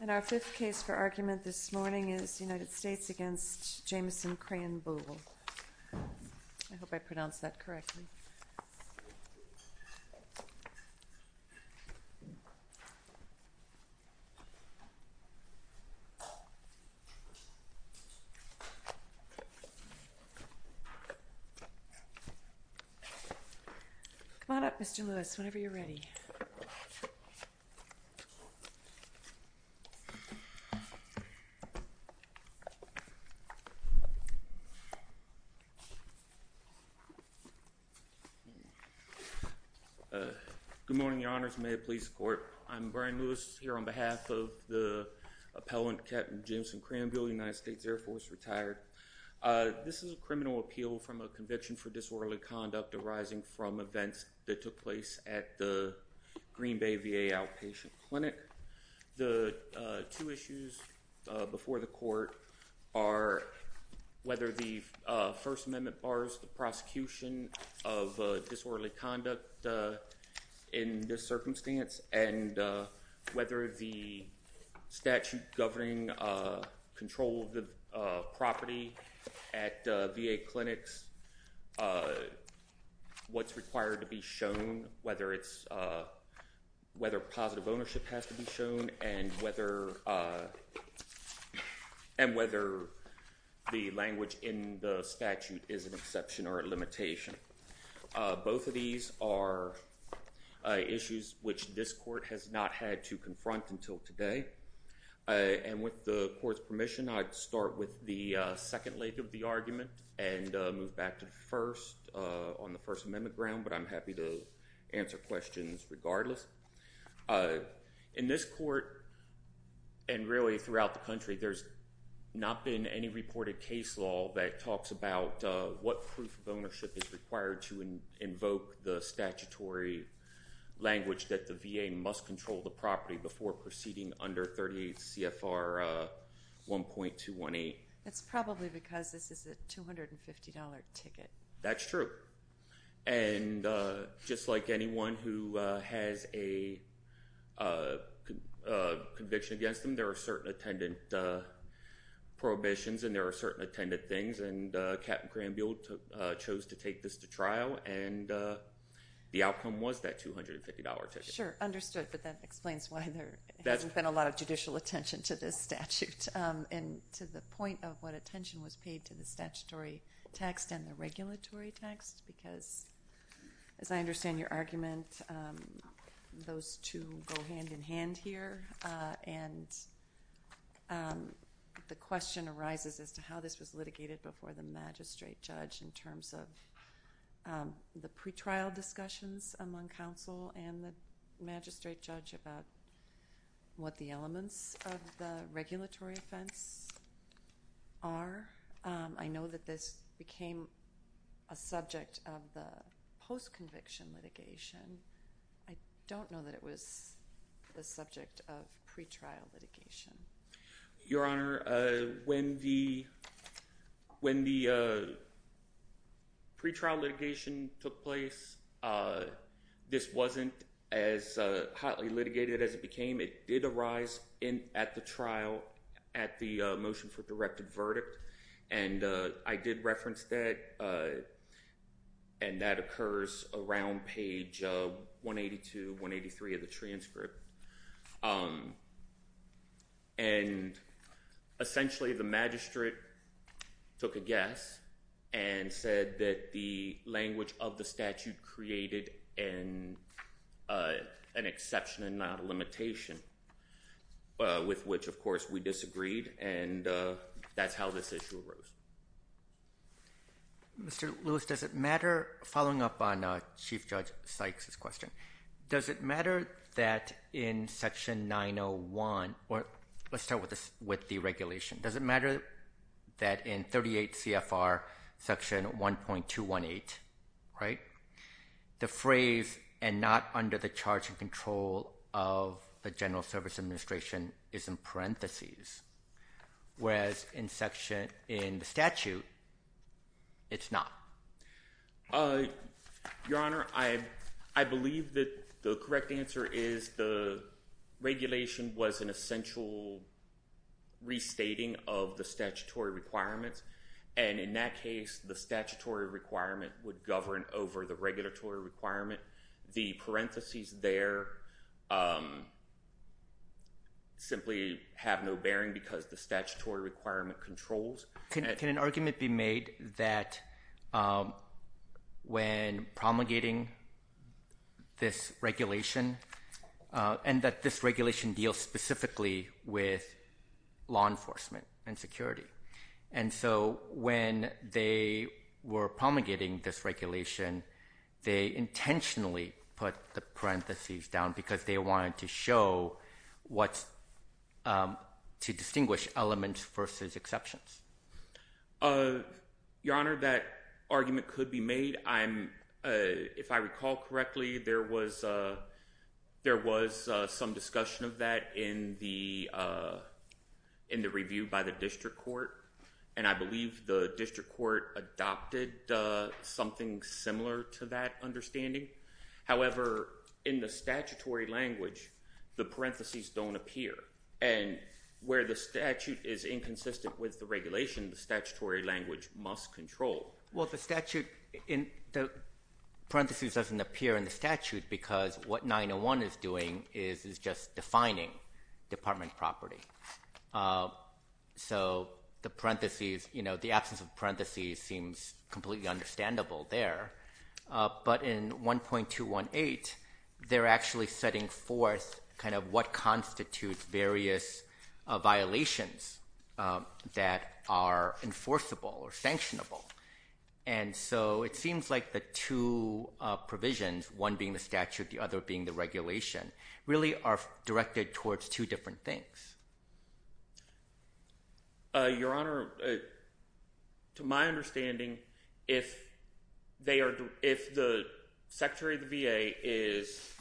And our fifth case for argument this morning is United States v. Jamison Krahenbuhl. I hope I pronounced that correctly. Come on up, Mr. Lewis, whenever you're ready. Good morning, your honors. May it please the court. I'm Brian Lewis here on behalf of the appellant, Captain Jamison Krahenbuhl, United States Air Force, retired. This is a criminal appeal from a conviction for disorderly conduct arising from events that took place at the Green Bay VA outpatient clinic. The two issues before the court are whether the First Amendment bars the prosecution of disorderly conduct in this circumstance and whether the statute governing control of the facility at VA clinics, what's required to be shown, whether positive ownership has to be shown, and whether the language in the statute is an exception or a limitation. Both of these are issues which this court has not had to confront until today. And with the court's permission, I'd start with the second leg of the argument and move back to the first on the First Amendment ground, but I'm happy to answer questions regardless. In this court, and really throughout the country, there's not been any reported case law that talks about what proof of ownership is required to invoke the statutory language that the it's probably because this is a 250-dollar ticket. That's true. And just like anyone who has a conviction against them, there are certain attendant prohibitions and certain attendant things and Captain Krahenbuhl chose to take this to trial and the outcome was that 250-dollar ticket. Sure, understood. But that explains why there hasn't been a lot of judicial attention to this statute and to the point of what attention was paid to the statutory text and the regulatory text because as I understand your argument, those two go hand-in-hand here and the question arises as to how this was litigated before the magistrate judge in terms of the pretrial There have been broad discussions among counsel and the magistrate judge about what the elements of the regulatory offense are. I know that this became a subject of the post-conviction litigation. I don't know that it was the subject of pretrial litigation. Your Honor, when the pretrial litigation took place, this wasn't as hotly litigated as it became. It did arise at the trial at the motion for directed verdict and I did reference that and that occurs around page 182, 183 of the transcript and essentially the magistrate took a guess and said that the language of the statute created an exception and not a limitation with which of course we disagreed and that's how this issue arose. Mr. Lewis, following up on Chief Judge Sykes' question, does it matter that in Section 901 or let's start with the regulation, does it matter that in 38 CFR Section 1.218, the phrase and not under the charge and control of the General Service Administration is in parentheses whereas in the statute, it's not? Your Honor, I believe that the correct answer is the regulation was an essential restating of the statutory requirements and in that case, the statutory requirement would govern over the regulatory requirement. The parentheses there simply have no bearing because the statutory requirement controls. Can an argument be made that when promulgating this regulation and that this regulation deals specifically with law enforcement and security and so when they were promulgating this regulation, they intentionally put the parentheses down because they wanted to show what's to distinguish elements versus exceptions? Your Honor, that argument could be made. If I recall correctly, there was some discussion of that in the review by the district court and I believe the district court adopted something similar to that understanding. However, in the statutory language, the parentheses don't appear and where the statute is inconsistent with the regulation, the statutory language must control. Well, the statute in the parentheses doesn't appear in the statute because what 901 is doing is just defining department property. So the parentheses, you know, the absence of parentheses seems completely understandable there but in 1.218, they're actually setting forth kind of what constitutes various violations that are enforceable or sanctionable and so it seems like the two provisions, one being the statute, the other being the regulation, really are directed towards two different things. Your Honor, to my understanding, if the Secretary of the VA is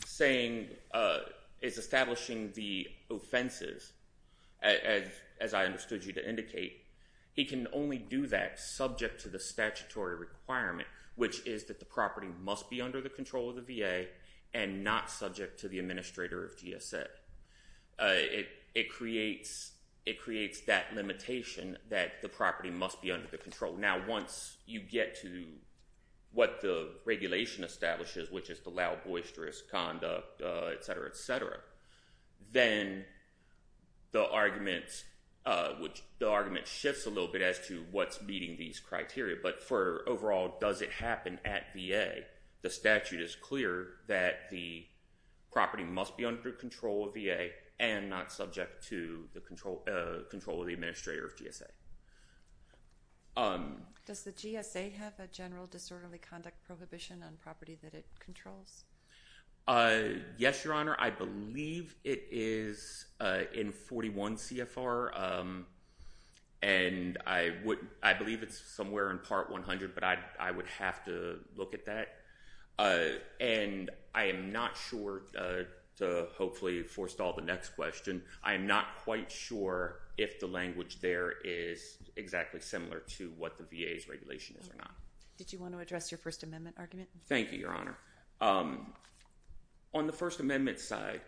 establishing the offenses as I understood you to indicate, he can only do that subject to the statutory requirement which is that the property must be under the control of the VA and not subject to the administrator of GSA. It creates that limitation that the property must be under the control. Now, once you get to what the regulation establishes which is to allow boisterous conduct, et cetera, et cetera, then the argument shifts a little bit as to what's meeting these criteria but for overall, does it happen at VA? The statute is clear that the property must be under control of VA and not subject to the control of the administrator of GSA. Does the GSA have a general disorderly conduct prohibition on property that it controls? Yes, Your Honor. I believe it is in 41 CFR and I believe it's somewhere in Part 100 but I would have to look at that and I am not sure to hopefully forestall the next question. I am not quite sure if the language there is exactly similar to what the VA's regulation is or not. Did you want to address your First Amendment argument? Thank you, Your Honor. On the First Amendment side,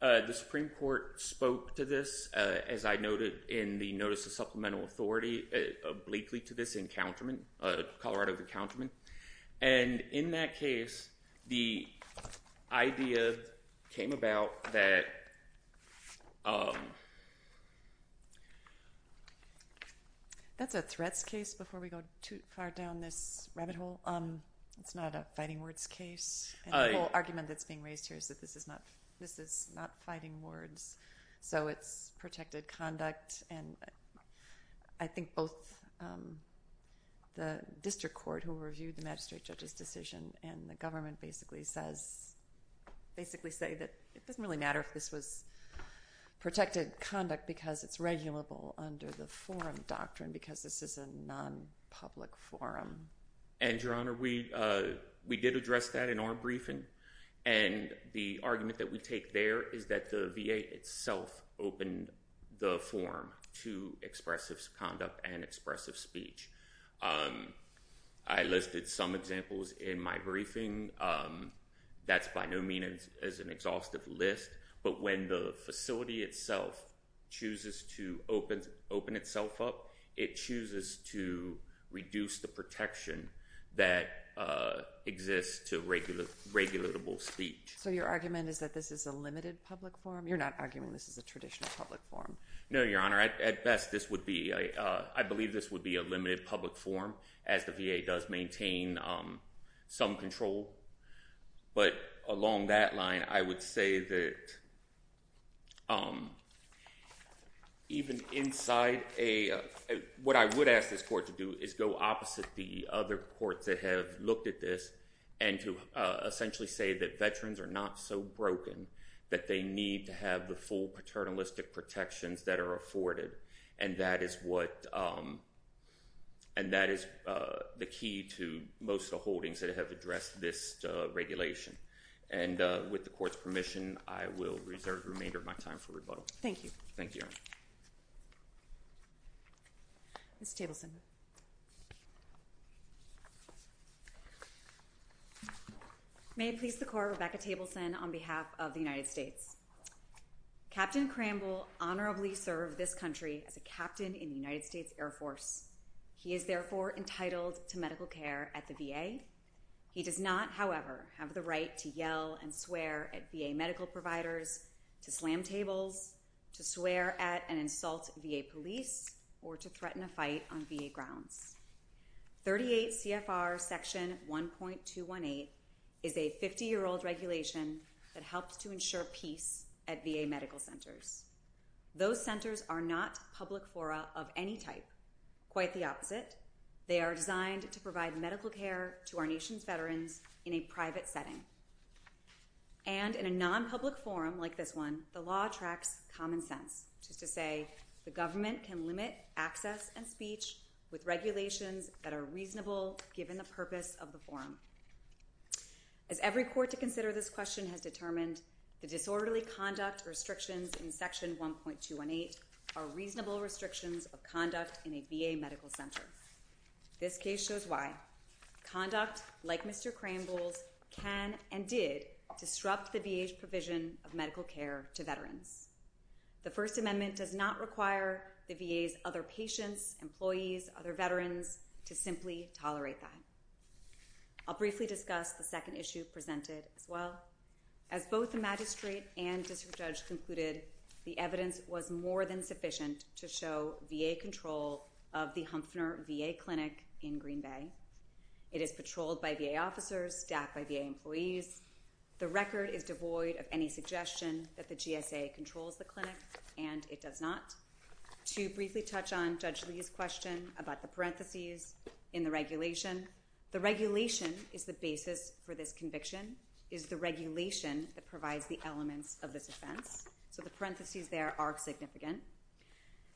the Supreme Court spoke to this as I noted in the Notice of Supplemental Authority obliquely to this encounterment, Colorado of Encounterment. And in that case, the idea came about that... That's a threats case before we go too far down this rabbit hole. It's not a fighting words case. The whole argument that's being raised here is that this is not fighting words. So it's protected conduct and I think both the district court who reviewed the magistrate judge's decision and the government basically say that it doesn't really matter if this was protected conduct because it's regulable under the forum doctrine because this is a non-public forum. And Your Honor, we did address that in our briefing and the argument that we take there is that the VA itself opened the forum to expressive conduct and expressive speech. I listed some examples in my briefing. That's by no means as an exhaustive list but when the facility itself chooses to open itself up, it chooses to reduce the protection that exists to regulable speech. So your argument is that this is a limited public forum? You're not arguing this is a traditional public forum? No, Your Honor. At best, this would be... I believe this would be a limited public forum as the VA does maintain some control. But along that line, I would say that... even inside a... what I would ask this court to do is go opposite the other courts that have looked at this and to essentially say that veterans are not so broken that they need to have the full paternalistic protections that are afforded and that is what... and that is the key to most of the holdings that have addressed this regulation. And with the court's permission, I will reserve the remainder of my time for rebuttal. Thank you. Thank you, Your Honor. Ms. Tableson. May it please the court, Rebecca Tableson on behalf of the United States. Captain Cramble honorably served this country as a captain in the United States Air Force. He is therefore entitled to medical care at the VA. He does not, however, have the right to yell and swear at VA medical providers, to slam tables, to swear at and insult VA police, or to threaten a fight on VA grounds. 38 CFR Section 1.218 is a 50-year-old regulation that helps to ensure peace at VA medical centers. Those centers are not public fora of any type. Quite the opposite. They are designed to provide medical care to our nation's veterans in a private setting. And in a non-public forum like this one, the law tracks common sense, which is to say the government can limit access and speech with regulations that are reasonable given the purpose of the forum. As every court to consider this question has determined, the disorderly conduct restrictions in Section 1.218 are reasonable restrictions of conduct in a VA medical center. This case shows why conduct like Mr. Cramble's can and did disrupt the VA's provision of medical care to veterans. The First Amendment does not require the VA's other patients, employees, other veterans to simply tolerate that. I'll briefly discuss the second issue presented as well. As both the magistrate and district judge concluded, the evidence was more than sufficient to show VA control of the Humpner VA clinic in Green Bay. It is patrolled by VA officers, staffed by VA employees. The record is devoid of any suggestion that the GSA controls the clinic, and it does not. To briefly touch on Judge Lee's question about the parentheses in the regulation, the regulation is the basis for this conviction, is the regulation that provides the elements of this offense. So the parentheses there are significant.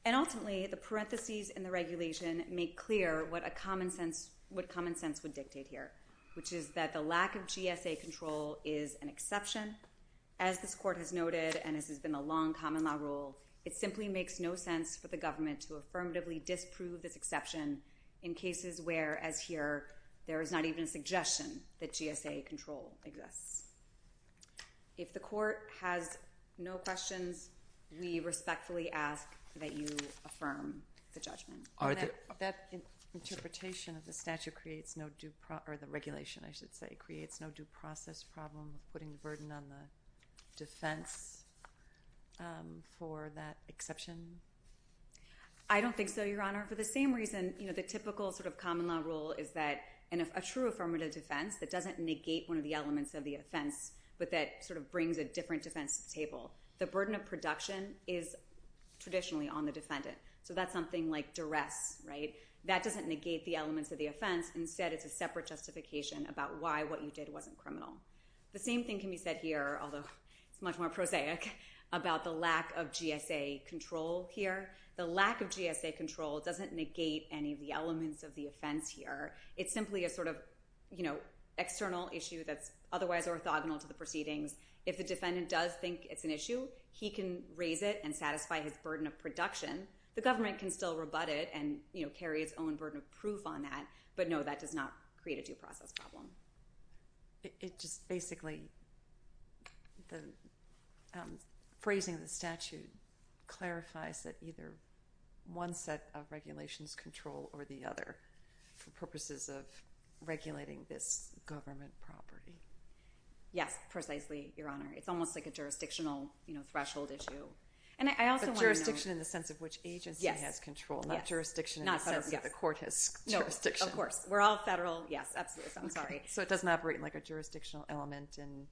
And ultimately, the parentheses in the regulation make clear what common sense would dictate here, which is that the lack of GSA control is an exception. As this court has noted, and this has been a long common law rule, it simply makes no sense for the government to affirmatively disprove this exception in cases where, as here, there is not even a suggestion that GSA control exists. If the court has no questions, we respectfully ask that you affirm the judgment. That interpretation of the statute creates no due process or the regulation, I should say, creates no due process problem of putting the burden on the defense for that exception? I don't think so, Your Honor. For the same reason, the typical sort of common law rule is that a true affirmative defense that doesn't negate one of the elements of the offense, but that sort of brings a different defense to the table. The burden of production is traditionally on the defendant. So that's something like duress, right? That doesn't negate the elements of the offense. Instead, it's a separate justification about why what you did wasn't criminal. The same thing can be said here, although it's much more prosaic, about the lack of GSA control here. The lack of GSA control doesn't negate any of the elements of the offense here. It's simply a sort of external issue that's otherwise orthogonal to the proceedings. If the defendant does think it's an issue, he can raise it and satisfy his burden of production. The government can still rebut it and carry its own burden of proof on that, but no, that does not create a due process problem. Basically, the phrasing of the statute clarifies that either one set of regulations control or the other for purposes of regulating this government property. Yes, precisely, Your Honor. It's almost like a jurisdictional threshold issue. But jurisdiction in the sense of which agency has control, not jurisdiction in the sense that the court has jurisdiction. Of course. We're all federal. Yes, absolutely. So I'm sorry. So it doesn't operate like a jurisdictional element in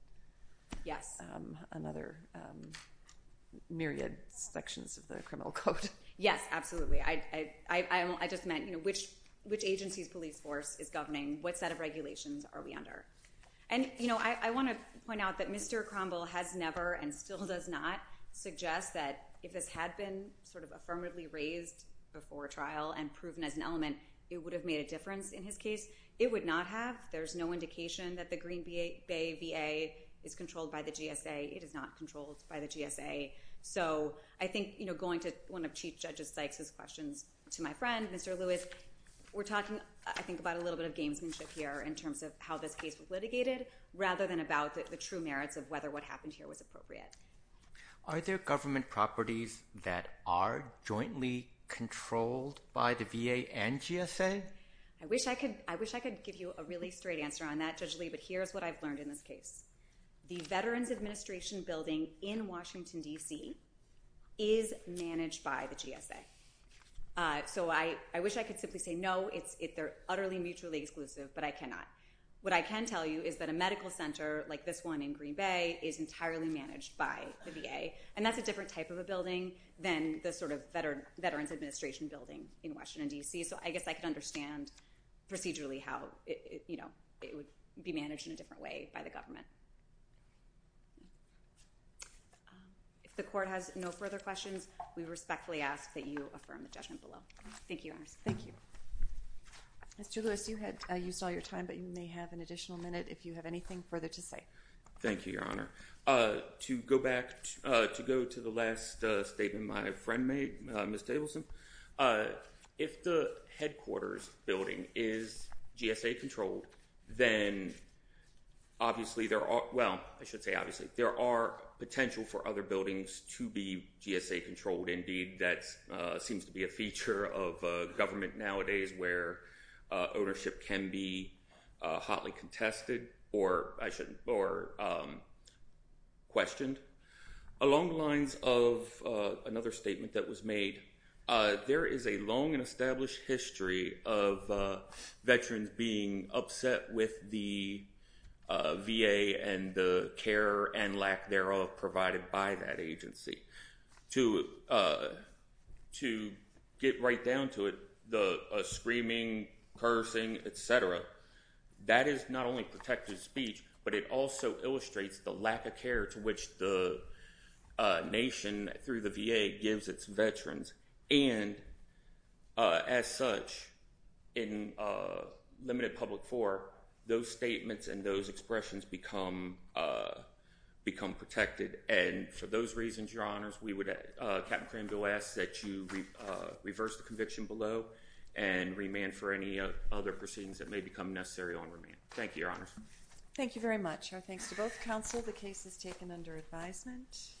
another myriad sections of the criminal code. Yes, absolutely. I just meant which agency's police force is governing what set of regulations are we under. I want to point out that Mr. Cromwell has never and still does not suggest that if this had been affirmatively raised before trial and proven as an element, it would have made a difference in his case. It would not have. There's no indication that the Green Bay VA is controlled by the GSA. It is not controlled by the GSA. So I think going to one of Chief Judge Sykes' questions to my friend, Mr. Lewis, we're talking, I think, about a little bit of gamesmanship here in terms of how this case was litigated rather than about the true merits of whether what happened here was appropriate. Are there government properties that are jointly controlled by the VA and GSA? I wish I could give you a really straight answer on that, Judge Lee, but here's what I've learned in this case. The Veterans Administration Building in Washington, D.C. is managed by the GSA. So I wish I could simply say, no, they're utterly mutually exclusive, but I cannot. What I can tell you is that a medical center like this one in Green Bay is entirely managed by the VA, and that's a different type of a building than the sort of Veterans Administration Building in Washington, D.C. So I guess I could understand procedurally how it would be managed in a different way by the government. If the Court has no further questions, we respectfully ask that you affirm the judgment below. Thank you, Your Honor. Thank you. Mr. Lewis, you had used all your time, but you may have an additional minute if you have anything further to say. Thank you, Your Honor. To go back to the last statement my friend made, Ms. Tableson, if the headquarters building is GSA-controlled, then obviously there are – well, I should say obviously – there are potential for other buildings to be GSA-controlled. Indeed, that seems to be a feature of government nowadays where ownership can be hotly contested or questioned. Along the lines of another statement that was made, there is a long and established history of Veterans being upset with the VA and the care and lack thereof provided by that agency. To get right down to it, the screaming, cursing, et cetera, that is not only protective speech, but it also illustrates the lack of care to which the nation through the VA gives its veterans. As such, in limited public forum, those statements and those expressions become protected. For those reasons, Your Honors, Captain Cranville asks that you reverse the conviction below and remand for any other proceedings that may become necessary on remand. Thank you, Your Honors. Thank you very much. Our thanks to both counsel. The case is taken under advisement.